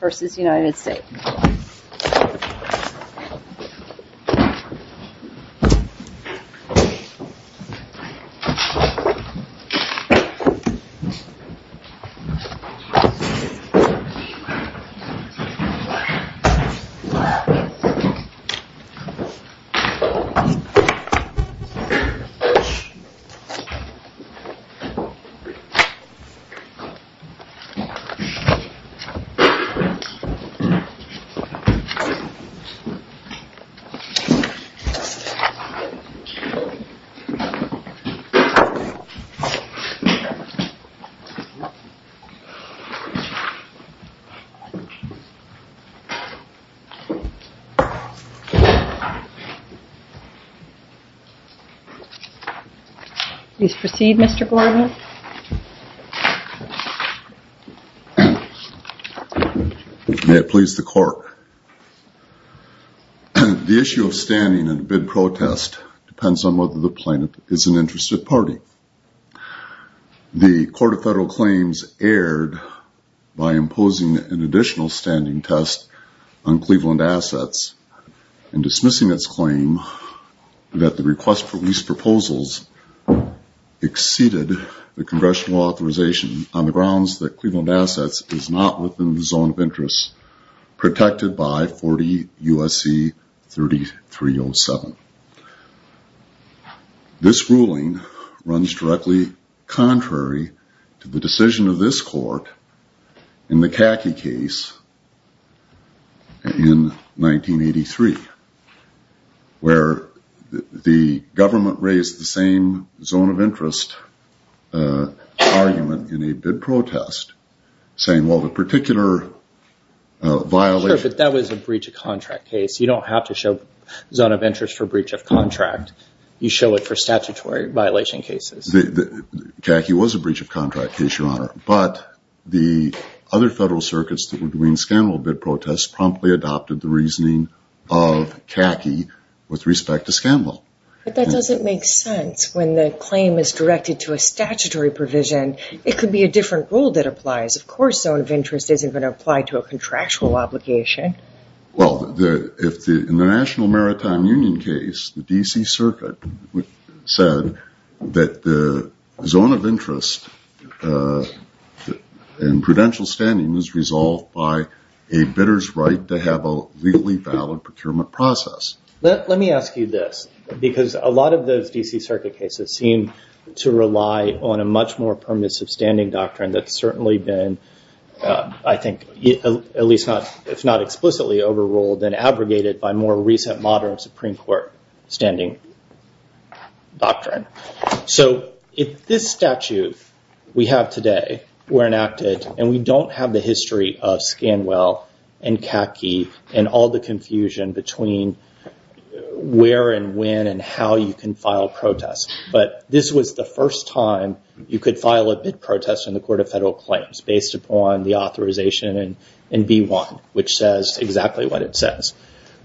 v. United States. Please proceed Mr. Borowitz. May it please the court. The issue of standing in a bid protest depends on whether the plaintiff is an interested party. The Court of Federal Claims erred by imposing an additional standing test on Cleveland Assets in dismissing its claim that the request for lease proposals exceeded the congressional authorization on the grounds that Cleveland Assets is not within the zone of interest protected by 40 U.S.C. 3307. This ruling runs directly contrary to the decision of this court in the CACI case in 1983, where the government raised the same zone of interest argument in a bid protest saying well the particular violation... Sure, but that was a breach of contract case. You don't have to show zone of interest for breach of contract. You show it for statutory violation cases. CACI was a breach of contract case, Your Honor, but the other federal circuits that were doing scandal bid protests promptly adopted the reasoning of CACI with respect to scandal. But that doesn't make sense. When the claim is directed to a statutory provision, it could be a different rule that applies. Of course zone of interest isn't going to apply to a contractual obligation. Well, in the National Maritime Union case, the D.C. Circuit said that the zone of interest in prudential standing is resolved by a bidder's right to have a legally valid procurement process. Let me ask you this, because a lot of those D.C. Circuit cases seem to rely on a much more permissive standing doctrine that's certainly been, I think, at least not explicitly overruled and abrogated by more recent modern Supreme Court standing doctrine. If this statute we have today were enacted and we don't have the history of Scanwell and CACI and all the confusion between where and when and how you can file protests, but this was the first time you could file a bid protest in the Court of Federal Claims based upon the authorization in B-1, which says exactly what it says,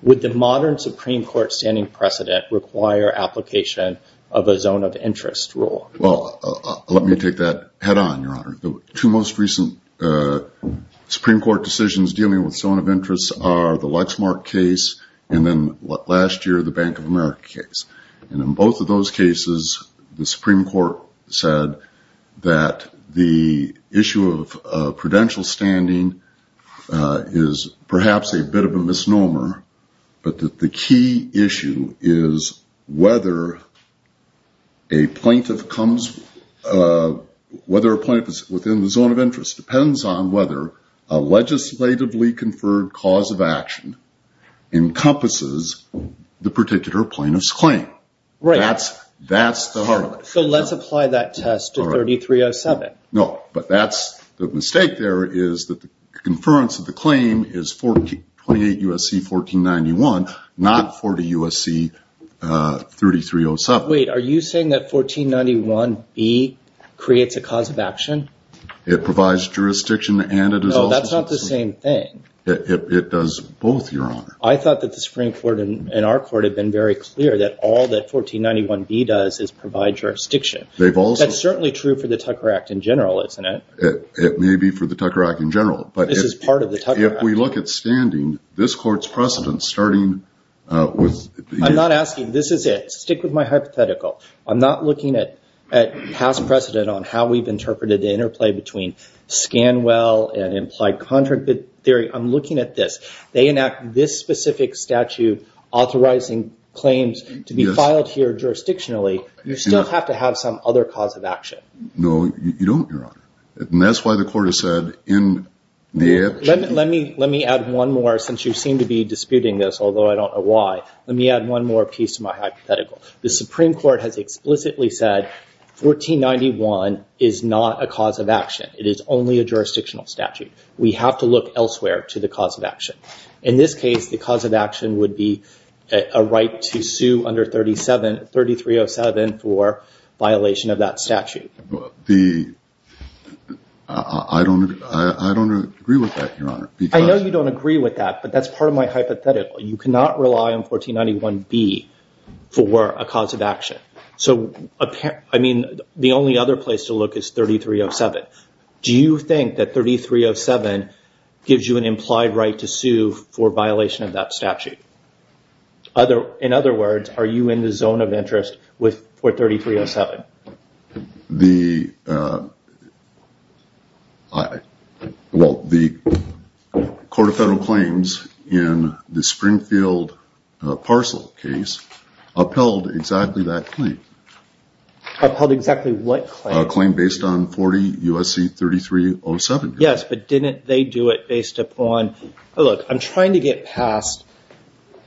would the modern Supreme Court standing precedent require application of a zone of interest rule? Well, let me take that head on, Your Honor. The two most recent Supreme Court decisions dealing with zone of interest are the Lexmark case and then last year the Bank of America case. In both of those cases, the Supreme Court said that the issue of prudential standing is perhaps a bit of a misnomer, but that the key issue is whether a plaintiff comes, whether a plaintiff is within the zone of interest depends on whether a legislatively conferred cause of action encompasses the particular plaintiff's claim. That's the harlot. Let's apply that test to 3307. No, but that's the mistake there, is that the conference of the claim is 28 U.S.C. 1491, not 40 U.S.C. 3307. Wait, are you saying that 1491B creates a cause of action? It provides jurisdiction and it is also... No, that's not the same thing. It does both, Your Honor. I thought that the Supreme Court and our court had been very clear that all that 1491B does is provide jurisdiction. They've also... That's certainly true for the Tucker Act in general, isn't it? It may be for the Tucker Act in general, but if we look at standing, this court's precedence starting with... I'm not asking, this is it. Stick with my hypothetical. I'm not looking at past precedent on how we've interpreted the interplay between Scanwell and implied contract theory. I'm looking at this. They enact this specific statute authorizing claims to be filed here jurisdictionally. You still have to have some other cause of action. No, you don't, Your Honor. That's why the court has said in the... Let me add one more since you seem to be disputing this, although I don't know why. Let me add one more piece to my hypothetical. The Supreme Court has explicitly said 1491 is not a cause of action. It is only a jurisdictional statute. We have to look elsewhere to the cause of action. In this case, the cause of action would be a right to sue under 3307 for violation of that statute. I don't agree with that, Your Honor. I know you don't agree with that, but that's part of my hypothetical. You cannot rely on 1491B for a cause of action. The only other place to look is 3307. Do you think that 3307 gives you an implied right to sue for violation of that statute? In other words, are you in the zone of interest for 3307? The Court of Federal Claims in the Springfield parcel case upheld exactly that claim. Upheld exactly what claim? A claim based on 40 U.S.C. 3307. Yes, but didn't they do it based upon... Look, I'm trying to get past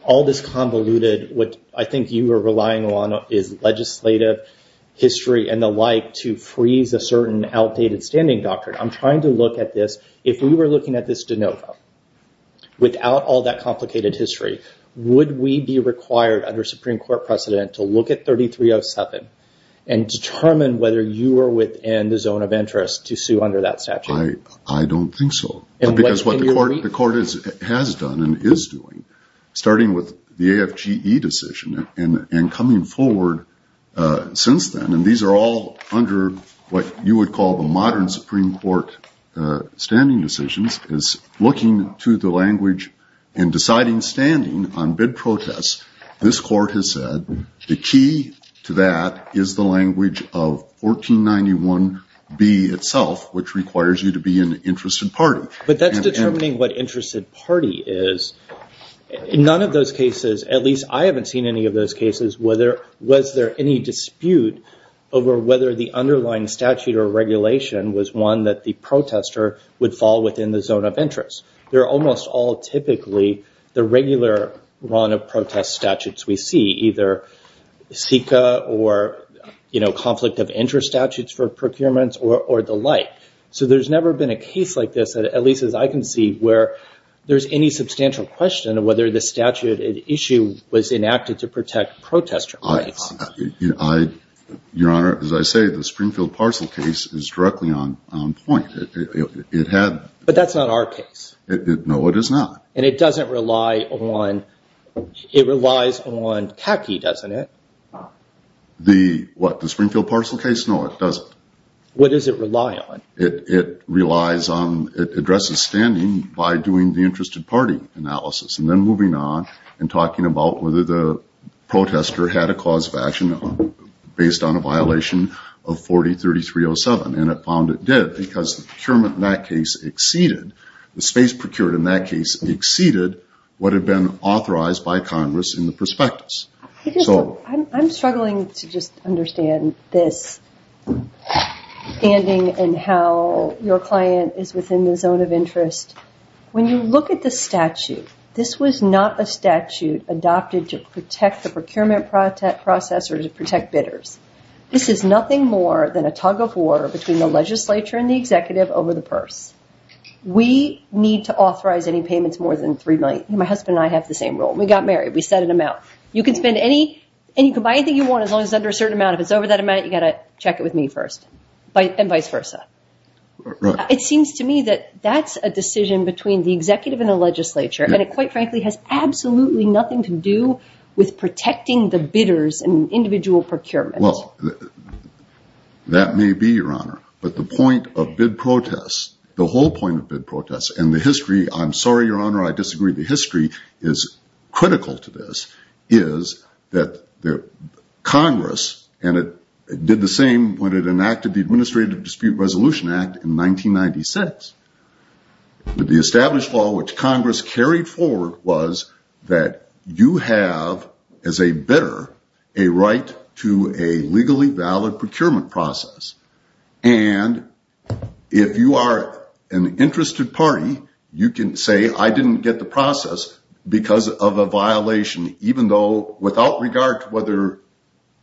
all this convoluted what I think you are relying on is legislative history and the like to freeze a certain outdated standing doctrine. I'm trying to look at this. If we were looking at this de novo, without all that complicated history, would we be required under Supreme Court precedent to look at 3307 and determine whether you are within the zone of interest to sue under that statute? I don't think so, because what the court has done and is doing, starting with the AFGE decision and coming forward since then, and these are all under what you would call the modern Supreme Court standing decisions, is looking to the language and deciding standing on bid protest, this court has said the key to that is the language of 1491B itself, which requires you to be an interested party. But that's determining what interested party is. In none of those cases, at least I haven't seen any of those cases, was there any dispute over whether the underlying statute or regulation was one that the protester would fall within the zone of interest. They're almost all typically the regular run of protest statutes we see, either SICA or conflict of interest statutes for procurements or the like. So there's never been a case like this, at least as I can see, where there's any substantial question of whether the statute at issue was enacted to protect protester rights. Your Honor, as I say, the Springfield parcel case is directly on point. But that's not our case. No, it is not. And it doesn't rely on, it relies on CACI, doesn't it? The what? The Springfield parcel case? No, it doesn't. What does it rely on? It relies on, it addresses standing by doing the interested party analysis and then moving on and talking about whether the protester had a cause of action based on a violation of 40-3307. And it found it did because the procurement in that case exceeded, the space procured in that case exceeded what had been authorized by Congress in the prospectus. I'm struggling to just understand this standing and how your client is within the zone of interest. When you look at the statute, this was not a statute adopted to protect the procurement process or to protect bidders. This is nothing more than a tug of war between the legislature and the executive over the purse. We need to authorize any payments more than $3 million. My husband and I have the same rule. We got married. We set an amount. You can spend any, and you can buy anything you want as long as it's under a certain amount. If it's over that amount, you got to check it with me first and vice versa. It seems to me that that's a decision between the executive and the legislature and it quite frankly has absolutely nothing to do with protecting the bidders and individual procurement. That may be, Your Honor, but the point of bid protests, the whole point of bid protests and the history, I'm sorry, Your Honor, I disagree, the history is critical to this is that Congress, and it did the same when it enacted the Administrative Dispute Resolution Act in 1996. The established law, which Congress carried forward was that you have as a bidder a right to a legally valid procurement process. And if you are an interested party, you can say, I didn't get the process because of a violation even though without regard to whether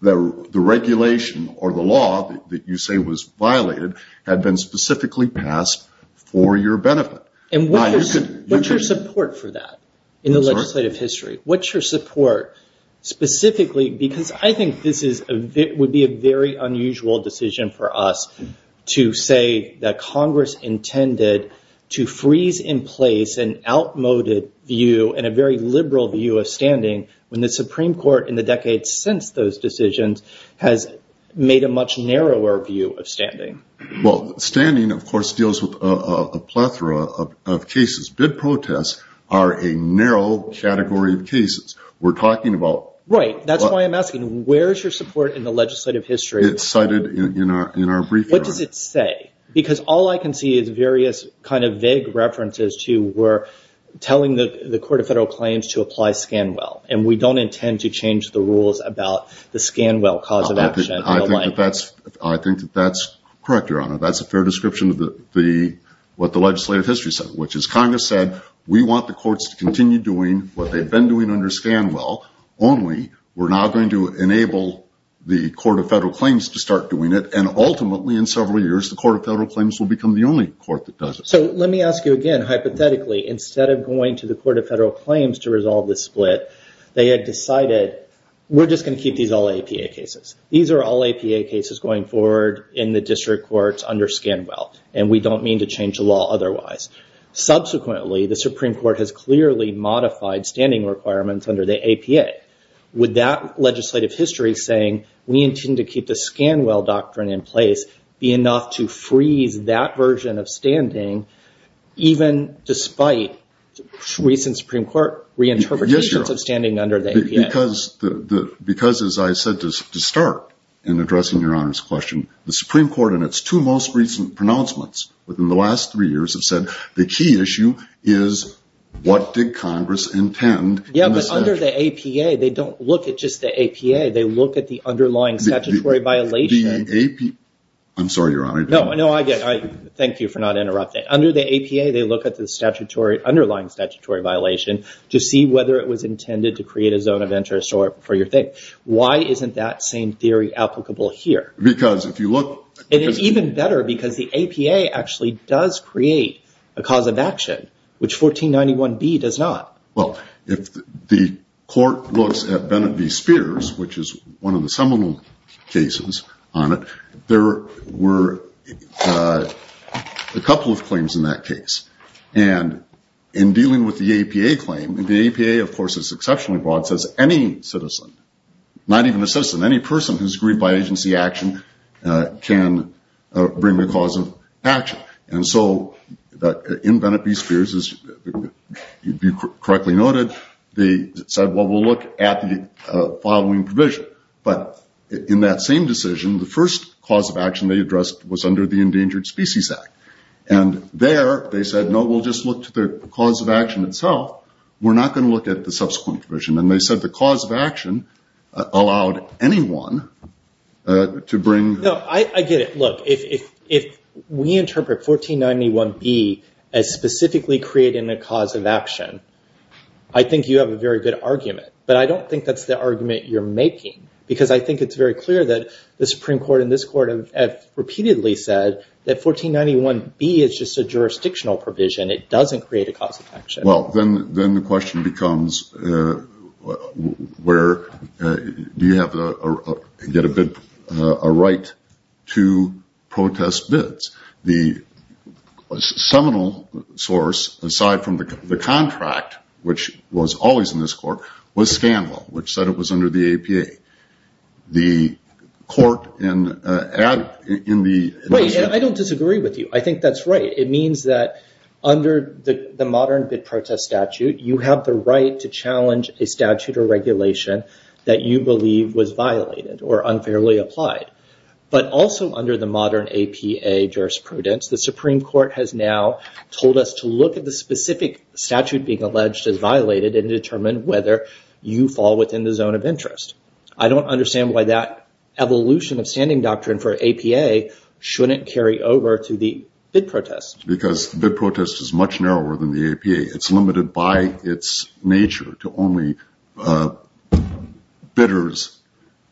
the regulation or the law that you say was specifically passed for your benefit. And what's your support for that in the legislative history? What's your support specifically? Because I think this would be a very unusual decision for us to say that Congress intended to freeze in place an outmoded view and a very liberal view of standing when the Supreme Court in the decades since those decisions has made a much narrower view of standing. Well, standing, of course, deals with a plethora of cases. Bid protests are a narrow category of cases. We're talking about... Right. That's why I'm asking, where's your support in the legislative history? It's cited in our brief, Your Honor. What does it say? Because all I can see is various kind of vague references to where telling the Court of Federal Claims to apply Scanwell, and we don't intend to change the rules about the Scanwell cause of action. I think that that's correct, Your Honor. That's a fair description of what the legislative history said, which is Congress said, we want the courts to continue doing what they've been doing under Scanwell, only we're now going to enable the Court of Federal Claims to start doing it. And ultimately, in several years, the Court of Federal Claims will become the only court that does it. So let me ask you again, hypothetically, instead of going to the Court of Federal Claims to resolve this split, they had decided, we're just going to keep these all APA cases. These are all APA cases going forward in the district courts under Scanwell, and we don't mean to change the law otherwise. Subsequently, the Supreme Court has clearly modified standing requirements under the APA. Would that legislative history saying, we intend to keep the Scanwell doctrine in place, be enough to freeze that version of standing, even despite recent Supreme Court reinterpretations of standing under the APA? Because, as I said to start in addressing Your Honor's question, the Supreme Court and its two most recent pronouncements within the last three years have said, the key issue is what did Congress intend in the statute? Yeah, but under the APA, they don't look at just the APA, they look at the underlying statutory violation. The APA. I'm sorry, Your Honor. No, no, I get it. Thank you for not interrupting. Under the APA, they look at the underlying statutory violation to see whether it was for your interest or for your thing. Why isn't that same theory applicable here? Because if you look... It is even better because the APA actually does create a cause of action, which 1491B does not. Well, if the court looks at Bennett v. Spears, which is one of the seminal cases on it, there were a couple of claims in that case. In dealing with the APA claim, the APA, of course, is exceptionally broad, says any citizen, not even a citizen, any person who's grieved by agency action can bring the cause of action. In Bennett v. Spears, as you correctly noted, they said, well, we'll look at the following provision. But in that same decision, the first cause of action they addressed was under the Endangered Species Act. And there, they said, no, we'll just look to the cause of action itself. We're not going to look at the subsequent provision. And they said the cause of action allowed anyone to bring... No, I get it. Look, if we interpret 1491B as specifically creating a cause of action, I think you have a very good argument. But I don't think that's the argument you're making. Because I think it's very clear that the Supreme Court and this Court have repeatedly said that 1491B is just a jurisdictional provision. It doesn't create a cause of action. Well, then the question becomes, do you get a bid, a right to protest bids? The seminal source, aside from the contract, which was always in this Court, was Scandal, which said it was under the APA. The Court in the... Right, and I don't disagree with you. I think that's right. It means that under the modern bid protest statute, you have the right to challenge a statute or regulation that you believe was violated or unfairly applied. But also under the modern APA jurisprudence, the Supreme Court has now told us to look at the specific statute being alleged as violated and determine whether you fall within the zone of interest. I don't understand why that evolution of standing doctrine for APA shouldn't carry over to the bid protest. Because the bid protest is much narrower than the APA. It's limited by its nature to only bidders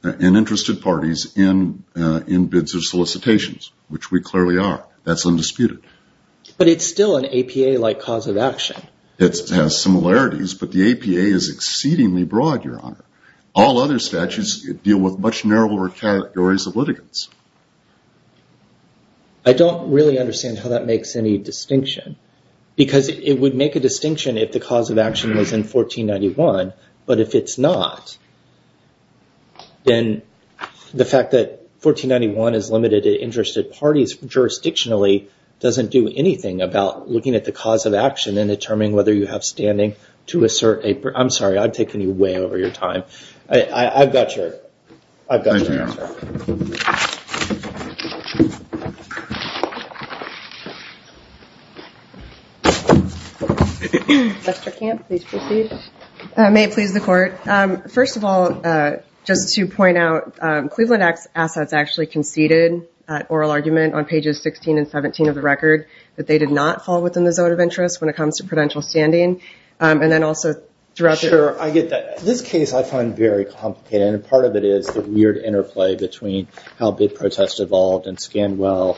and interested parties in bids or solicitations, which we clearly are. That's undisputed. But it's still an APA-like cause of action. All other statutes deal with much narrower categories of litigants. I don't really understand how that makes any distinction. Because it would make a distinction if the cause of action was in 1491. But if it's not, then the fact that 1491 is limited to interested parties jurisdictionally doesn't do anything about looking at the cause of action and determining whether you have way over your time. I've got your answer. Mr. Kemp, please proceed. May it please the court. First of all, just to point out, Cleveland Assets actually conceded at oral argument on pages 16 and 17 of the record that they did not fall within the zone of interest when it comes to prudential standing. Thank you. Thank you. Thank you. Thank you. Thank you. Thank you. Thank you. Thank you. Thank you. Thank you. Thank you. But this case I find very complicated. And part of it is the weird interplay between how big protests evolved and Scanwell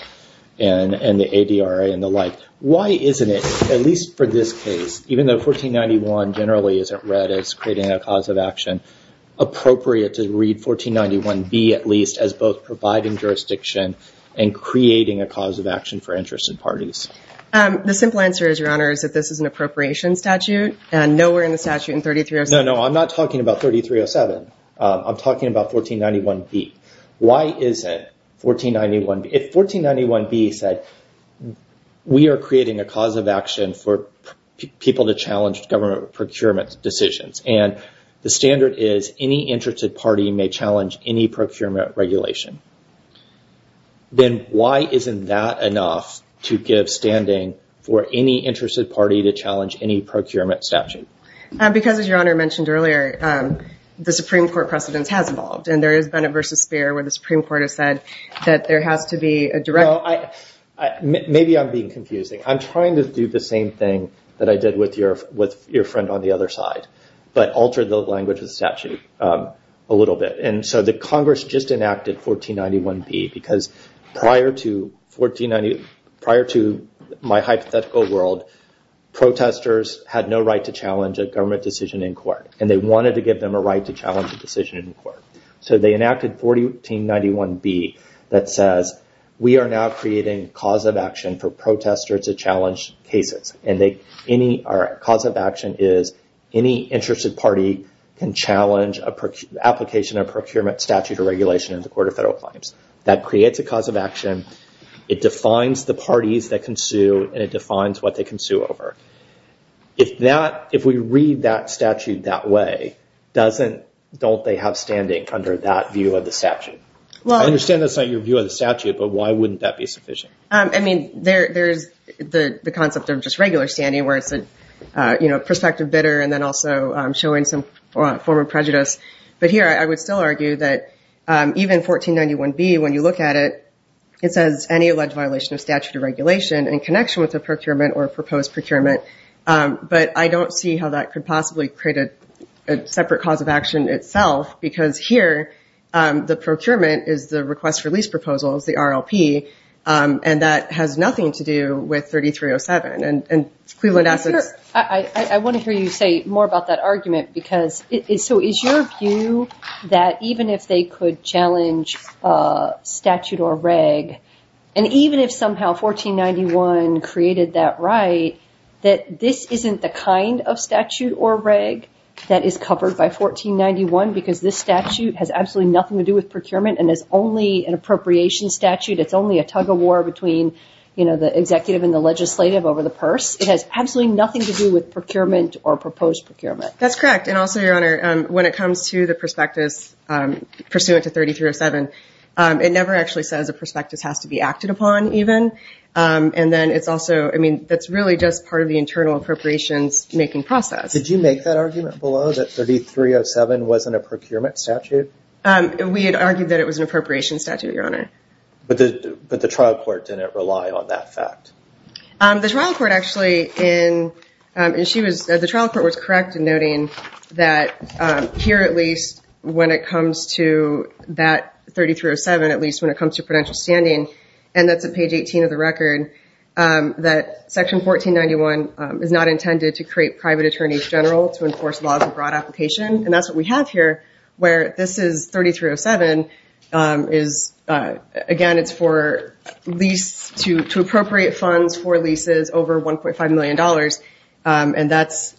and the ADRA and the like. Why isn't it at least for this case, even though 1491 generally isn't read as creating a cause of action, appropriate to read 1491B at least as both providing jurisdiction and creating a cause of action for interested parties? The simple answer is, Your Honor, is that this is an appropriation statute and nowhere in the statute in 3307. No, no, no. I'm not talking about 3307. I'm talking about 1491B. Why is it 1491B, if 1491B said we are creating a cause of action for people to challenge government procurement decisions, and the standard is any interested party may challenge any procurement regulation, then why isn't that enough to give standing for any interested party to challenge any procurement statute? Because, as Your Honor mentioned earlier, the Supreme Court precedence has evolved and there has been a versus sphere where the Supreme Court has said that there has to be a direct Well, maybe I'm being confusing. I'm trying to do the same thing that I did with your friend on the other side, but altered the language of the statute a little bit. And so the Congress just enacted 1491B because prior to my hypothetical world, protesters had no right to challenge a government decision in court, and they wanted to give them a right to challenge a decision in court. So they enacted 1491B that says we are now creating cause of action for protesters to challenge cases, and our cause of action is any interested party can challenge an application of procurement statute or regulation in the Court of Federal Claims. That creates a cause of action. It defines the parties that can sue, and it defines what they can sue over. If we read that statute that way, don't they have standing under that view of the statute? I understand that's not your view of the statute, but why wouldn't that be sufficient? I mean, there's the concept of just regular standing, where it's a prospective bidder and then also showing some form of prejudice, but here I would still argue that even 1491B, when you look at it, it says any alleged violation of statute or regulation in connection with a procurement or a proposed procurement. But I don't see how that could possibly create a separate cause of action itself, because here the procurement is the Request for Lease Proposal, is the RLP, and that has nothing to do with 3307. And Cleveland Assets... I want to hear you say more about that argument, because so is your view that even if they could challenge statute or reg, and even if somehow 1491 created that right, that this isn't the kind of statute or reg that is covered by 1491, because this statute has absolutely nothing to do with procurement and is only an appropriation statute. It's only a tug-of-war between the executive and the legislative over the purse. It has absolutely nothing to do with procurement or proposed procurement. That's correct. And also, Your Honor, when it comes to the prospectus pursuant to 3307, it never actually says a prospectus has to be acted upon, even. And then it's also... I mean, that's really just part of the internal appropriations-making process. Did you make that argument below, that 3307 wasn't a procurement statute? We had argued that it was an appropriation statute, Your Honor. But the trial court didn't rely on that fact? The trial court actually, the trial court was correct in noting that here, at least, when it comes to that 3307, at least when it comes to prudential standing, and that's at page 18 of the record, that section 1491 is not intended to create private attorneys general to enforce laws of broad application. And that's what we have here, where this is 3307, again, it's for lease to appropriate funds for leases over $1.5 million, and that's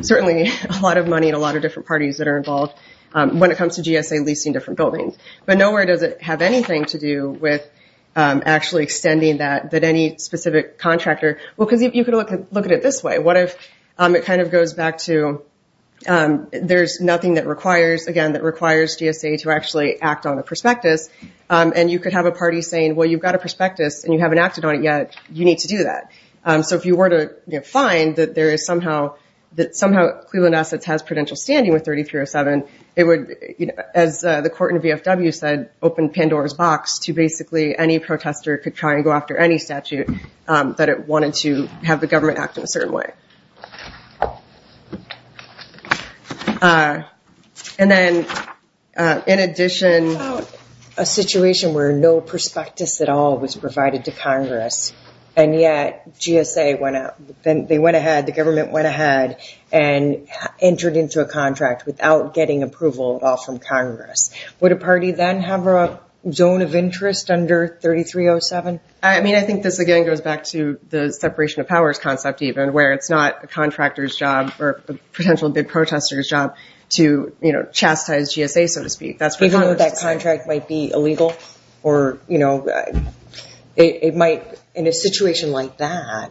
certainly a lot of money and a lot of different parties that are involved when it comes to GSA leasing different buildings. But nowhere does it have anything to do with actually extending that, that any specific contractor... Well, because you could look at it this way, what if it kind of goes back to, there's nothing that requires, again, that requires GSA to actually act on a prospectus, and you could have a party saying, well, you've got a prospectus, and you haven't acted on it yet. You need to do that. So if you were to find that somehow Cleveland Assets has prudential standing with 3307, it would, as the court in VFW said, open Pandora's box to basically any protester could try and go after any statute that it wanted to have the government act in a certain way. And then, in addition... How about a situation where no prospectus at all was provided to Congress, and yet GSA went out, they went ahead, the government went ahead and entered into a contract without getting approval at all from Congress. Would a party then have a zone of interest under 3307? I mean, I think this, again, goes back to the separation of powers concept, even, where it's not a contractor's job or a potential big protester's job to chastise GSA, so to speak. Even though that contract might be illegal, or it might, in a situation like that,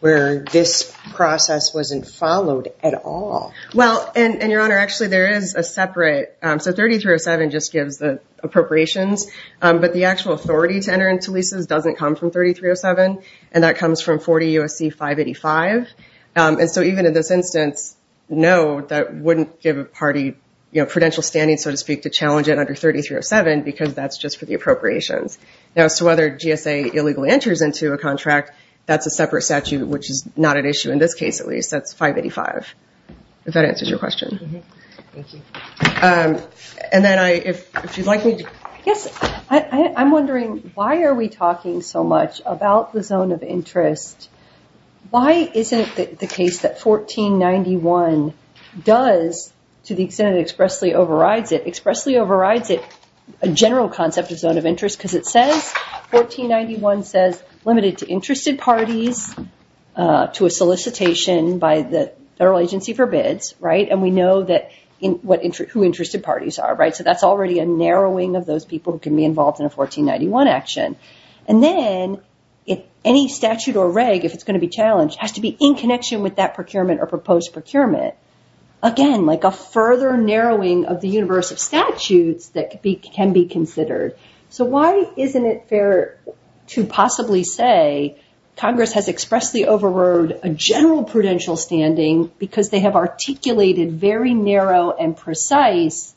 where this process wasn't followed at all. Well, and Your Honor, actually, there is a separate, so 3307 just gives the appropriations, but the actual authority to enter into leases doesn't come from 3307, and that comes from 40 U.S.C. 585, and so even in this instance, no, that wouldn't give a party prudential standing, so to speak, to challenge it under 3307, because that's just for the appropriations. Now, as to whether GSA illegally enters into a contract, that's a separate statute, which is not at issue in this case, at least. That's 585, if that answers your question. And then, if you'd like me to... Yes, I'm wondering, why are we talking so much about the zone of interest? Why isn't it the case that 1491 does, to the extent it expressly overrides it, expressly overrides it, a general concept of zone of interest, because it says, 1491 says, limited to interested parties, to a solicitation by the Federal Agency for Bids, right? And we know who interested parties are, right? So that's already a narrowing of those people who can be involved in a 1491 action. And then, any statute or reg, if it's going to be challenged, has to be in connection with that procurement or proposed procurement. Again, like a further narrowing of the universe of statutes that can be considered. So why isn't it fair to possibly say, Congress has expressly overrode a general prudential standing because they have articulated very narrow and precise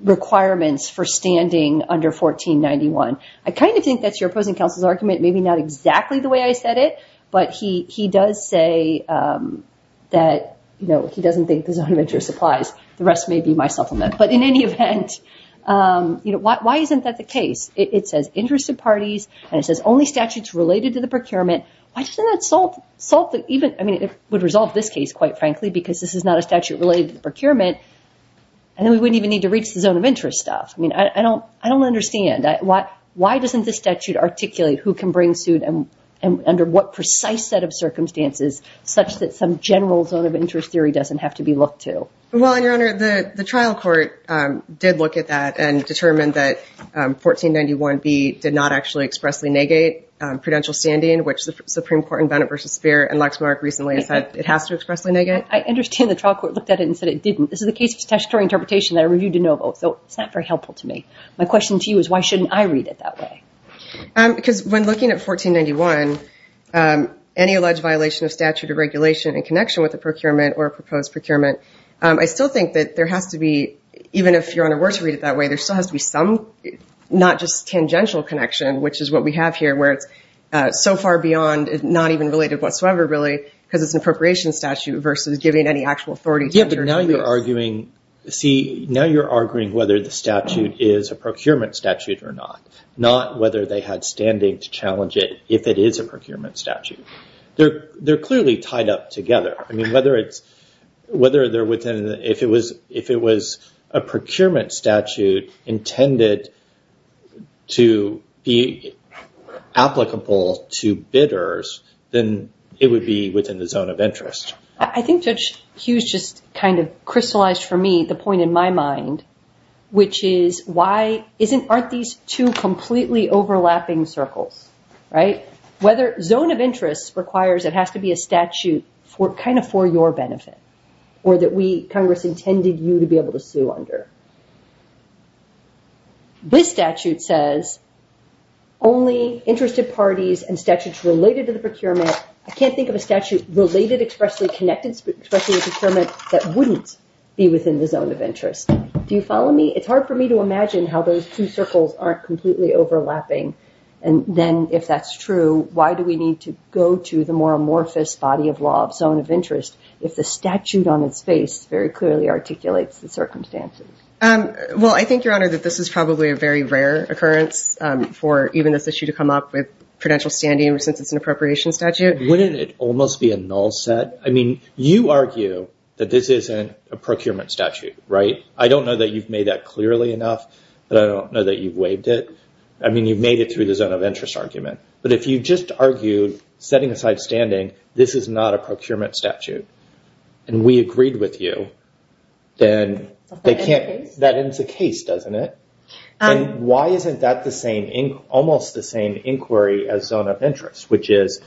requirements for standing under 1491? I kind of think that's your opposing counsel's argument. Maybe not exactly the way I said it, but he does say that he doesn't think there's a zone of interest applies. The rest may be my supplement. But in any event, why isn't that the case? It says, interested parties, and it says, only statutes related to the procurement. Why doesn't that solve the, even, I mean, it would resolve this case, quite frankly, because this is not a statute related to the procurement, and then we wouldn't even need to reach the zone of interest stuff. I mean, I don't understand. Why doesn't this statute articulate who can bring suit and under what precise set of circumstances such that some general zone of interest theory doesn't have to be looked to? Well, and Your Honor, the trial court did look at that and determined that 1491B did not actually expressly negate prudential standing, which the Supreme Court in Bennett v. Speer and Lexmark recently said it has to expressly negate. I understand the trial court looked at it and said it didn't. This is a case of statutory interpretation that I reviewed de novo, so it's not very helpful to me. My question to you is, why shouldn't I read it that way? Because when looking at 1491, any alleged violation of statute or regulation in connection with a procurement or a proposed procurement, I still think that there has to be, even if there is, there has to be some, not just tangential connection, which is what we have here where it's so far beyond, not even related whatsoever really, because it's an appropriation statute versus giving any actual authority to the attorney. Yeah, but now you're arguing, see, now you're arguing whether the statute is a procurement statute or not, not whether they had standing to challenge it if it is a procurement statute. They're clearly tied up together. I mean, whether it's, whether they're within, if it was a procurement statute intended to be applicable to bidders, then it would be within the zone of interest. I think Judge Hughes just kind of crystallized for me the point in my mind, which is, why isn't, aren't these two completely overlapping circles, right? Whether zone of interest requires it has to be a statute for, kind of for your benefit or that we, Congress, intended you to be able to sue under. This statute says only interested parties and statutes related to the procurement. I can't think of a statute related expressly, connected expressly to procurement that wouldn't be within the zone of interest. Do you follow me? It's hard for me to imagine how those two circles aren't completely overlapping. And then if that's true, why do we need to go to the more amorphous body of law of zone of interest if the statute on its face very clearly articulates the circumstances? Well, I think, Your Honor, that this is probably a very rare occurrence for even this issue to come up with prudential standing since it's an appropriation statute. Wouldn't it almost be a null set? I mean, you argue that this isn't a procurement statute, right? I don't know that you've made that clearly enough, but I don't know that you've waived it. I mean, you've made it through the zone of interest argument, but if you just argued setting aside standing, this is not a procurement statute, and we agreed with you, then that ends the case, doesn't it? Why isn't that almost the same inquiry as zone of interest, which is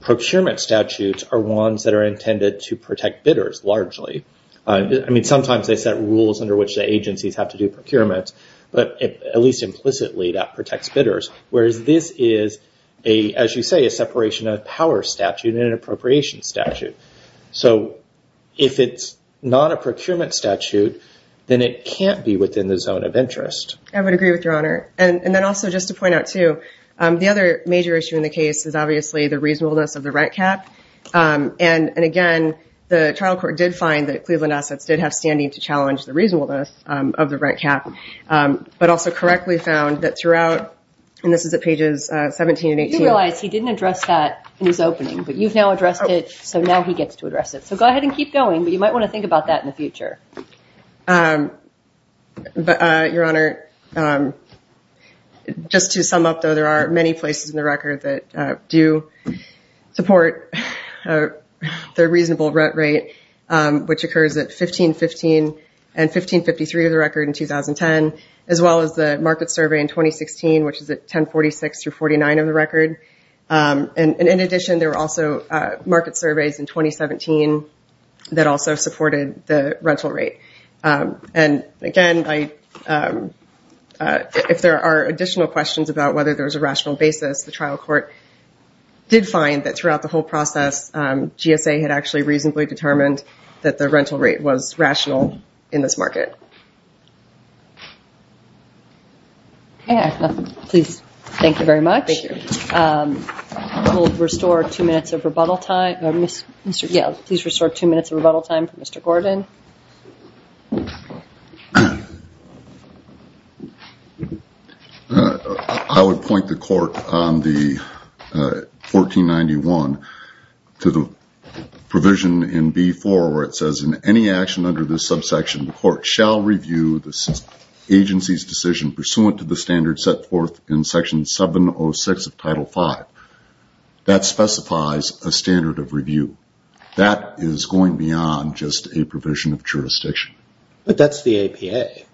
procurement statutes are ones that are intended to protect bidders largely. I mean, sometimes they set rules under which the agencies have to do procurement, but at least implicitly, that protects bidders, whereas this is, as you say, a separation of power statute and an appropriation statute. So if it's not a procurement statute, then it can't be within the zone of interest. I would agree with Your Honor, and then also just to point out too, the other major issue in the case is obviously the reasonableness of the rent cap, and again, the trial court did find that Cleveland Assets did have standing to challenge the reasonableness of the rent cap, but also correctly found that throughout, and this is at pages 17 and 18. You realize he didn't address that in his opening, but you've now addressed it, so now he gets to address it. So go ahead and keep going, but you might want to think about that in the future. Your Honor, just to sum up though, there are many places in the record that do support their reasonable rent rate, which occurs at 1515 and 1553 of the record in 2010, as well as the market survey in 2016, which is at 1046 through 49 of the record, and in addition, there were also market surveys in 2017 that also supported the rental rate. And again, if there are additional questions about whether there was a rational basis, the trial court did find that throughout the whole process, GSA had actually reasonably determined that the rental rate was rational in this market. Okay, please, thank you very much. Thank you. We'll restore two minutes of rebuttal time, or Mr., yeah, please restore two minutes of rebuttal time for Mr. Gordon. I would point the court on the 1491 to the provision in B4 where it says, in any action under this subsection, the court shall review the agency's decision pursuant to the standard set forth in Section 706 of Title V. That specifies a standard of review. That is going beyond just a provision of jurisdiction. But that's the APA.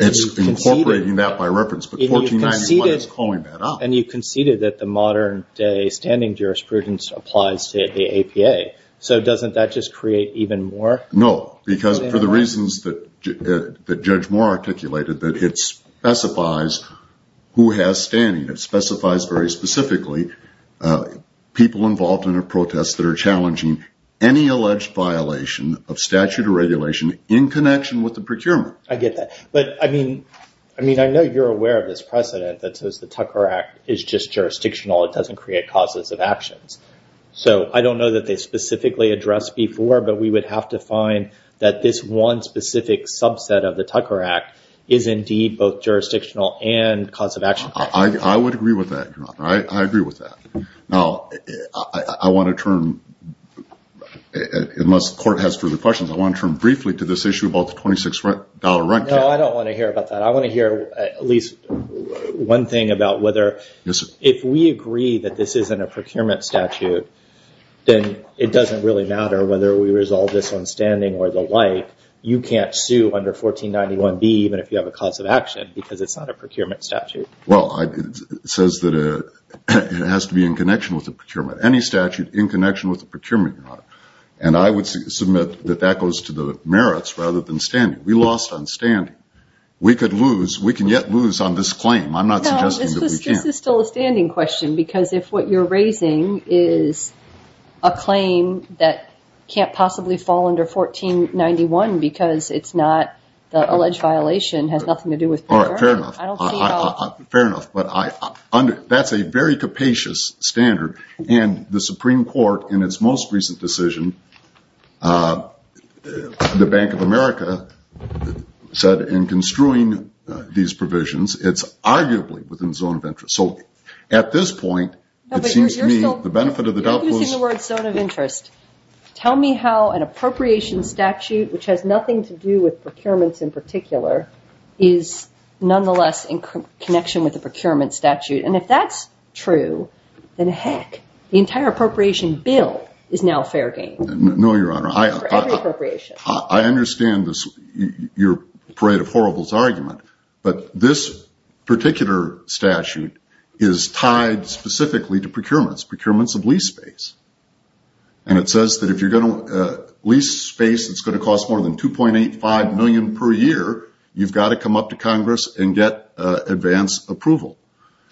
It's incorporating that by reference, but 1491 is calling that out. And you conceded that the modern-day standing jurisprudence applies to the APA, so doesn't that just create even more? No, because for the reasons that Judge Moore articulated, that it specifies who has standing. It specifies very specifically people involved in a protest that are challenging any alleged violation of statute or regulation in connection with the procurement. I get that, but I mean, I know you're aware of this precedent that says the Tucker Act is just jurisdictional. It doesn't create causes of actions. So I don't know that they specifically addressed before, but we would have to find that this one specific subset of the Tucker Act is indeed both jurisdictional and cause of action. I would agree with that, Your Honor. I agree with that. Now, I want to turn, unless the court has further questions, I want to turn briefly to this issue about the $26 rent cap. No, I don't want to hear about that. I want to hear at least one thing about whether if we agree that this isn't a procurement statute, then it doesn't really matter whether we resolve this on standing or the like. You can't sue under 1491B even if you have a cause of action because it's not a procurement statute. Well, it says that it has to be in connection with the procurement. Any statute in connection with the procurement, Your Honor. And I would submit that that goes to the merits rather than standing. We lost on standing. We could lose. We can yet lose on this claim. I'm not suggesting that we can't. No, this is still a standing question because if what you're raising is a claim that can't possibly fall under 1491 because it's not the alleged violation has nothing to do with procurement. Fair enough. Fair enough. But that's a very capacious standard and the Supreme Court in its most recent decision, the Bank of America said in construing these provisions, it's arguably within the zone of interest. So, at this point, it seems to me the benefit of the doubt was. You're using the word zone of interest. Tell me how an appropriation statute which has nothing to do with procurements in particular is nonetheless in connection with the procurement statute. And if that's true, then heck, the entire appropriation bill is now fair game. No, Your Honor. For every appropriation. I understand your parade of horribles argument, but this particular statute is tied specifically to procurements. Procurements of lease space. And it says that if you're going to lease space, it's going to cost more than 2.85 million per year. You've got to come up to Congress and get advanced approval.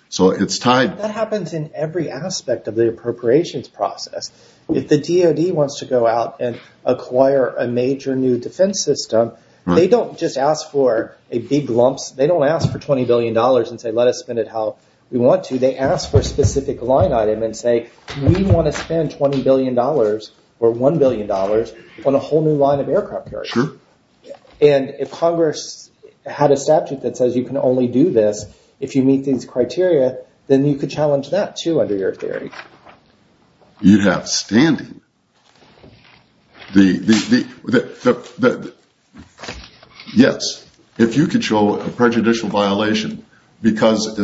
So it's tied. That happens in every aspect of the appropriations process. If the DOD wants to go out and acquire a major new defense system, they don't just ask for a big lumps. They don't ask for $20 billion and say, let us spend it how we want to. They ask for a specific line item and say, we want to spend $20 billion or $1 billion on a whole new line of aircraft carriers. And if Congress had a statute that says you can only do this if you meet these criteria, then you could challenge that too under your theory. You have standing. Yes. If you could show a prejudicial violation, because,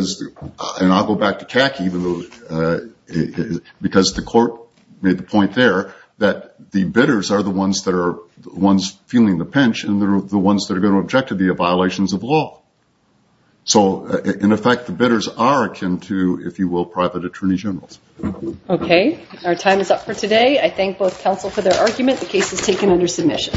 and I'll go back to CACI, because the court made the point there, that the bidders are the ones that are the ones feeling the pinch and they're the ones that are going to object to the violations of law. So in effect, the bidders are akin to, if you will, private attorney generals. Okay. Our time is up for today. I thank both counsel for their argument. The case is taken under submission.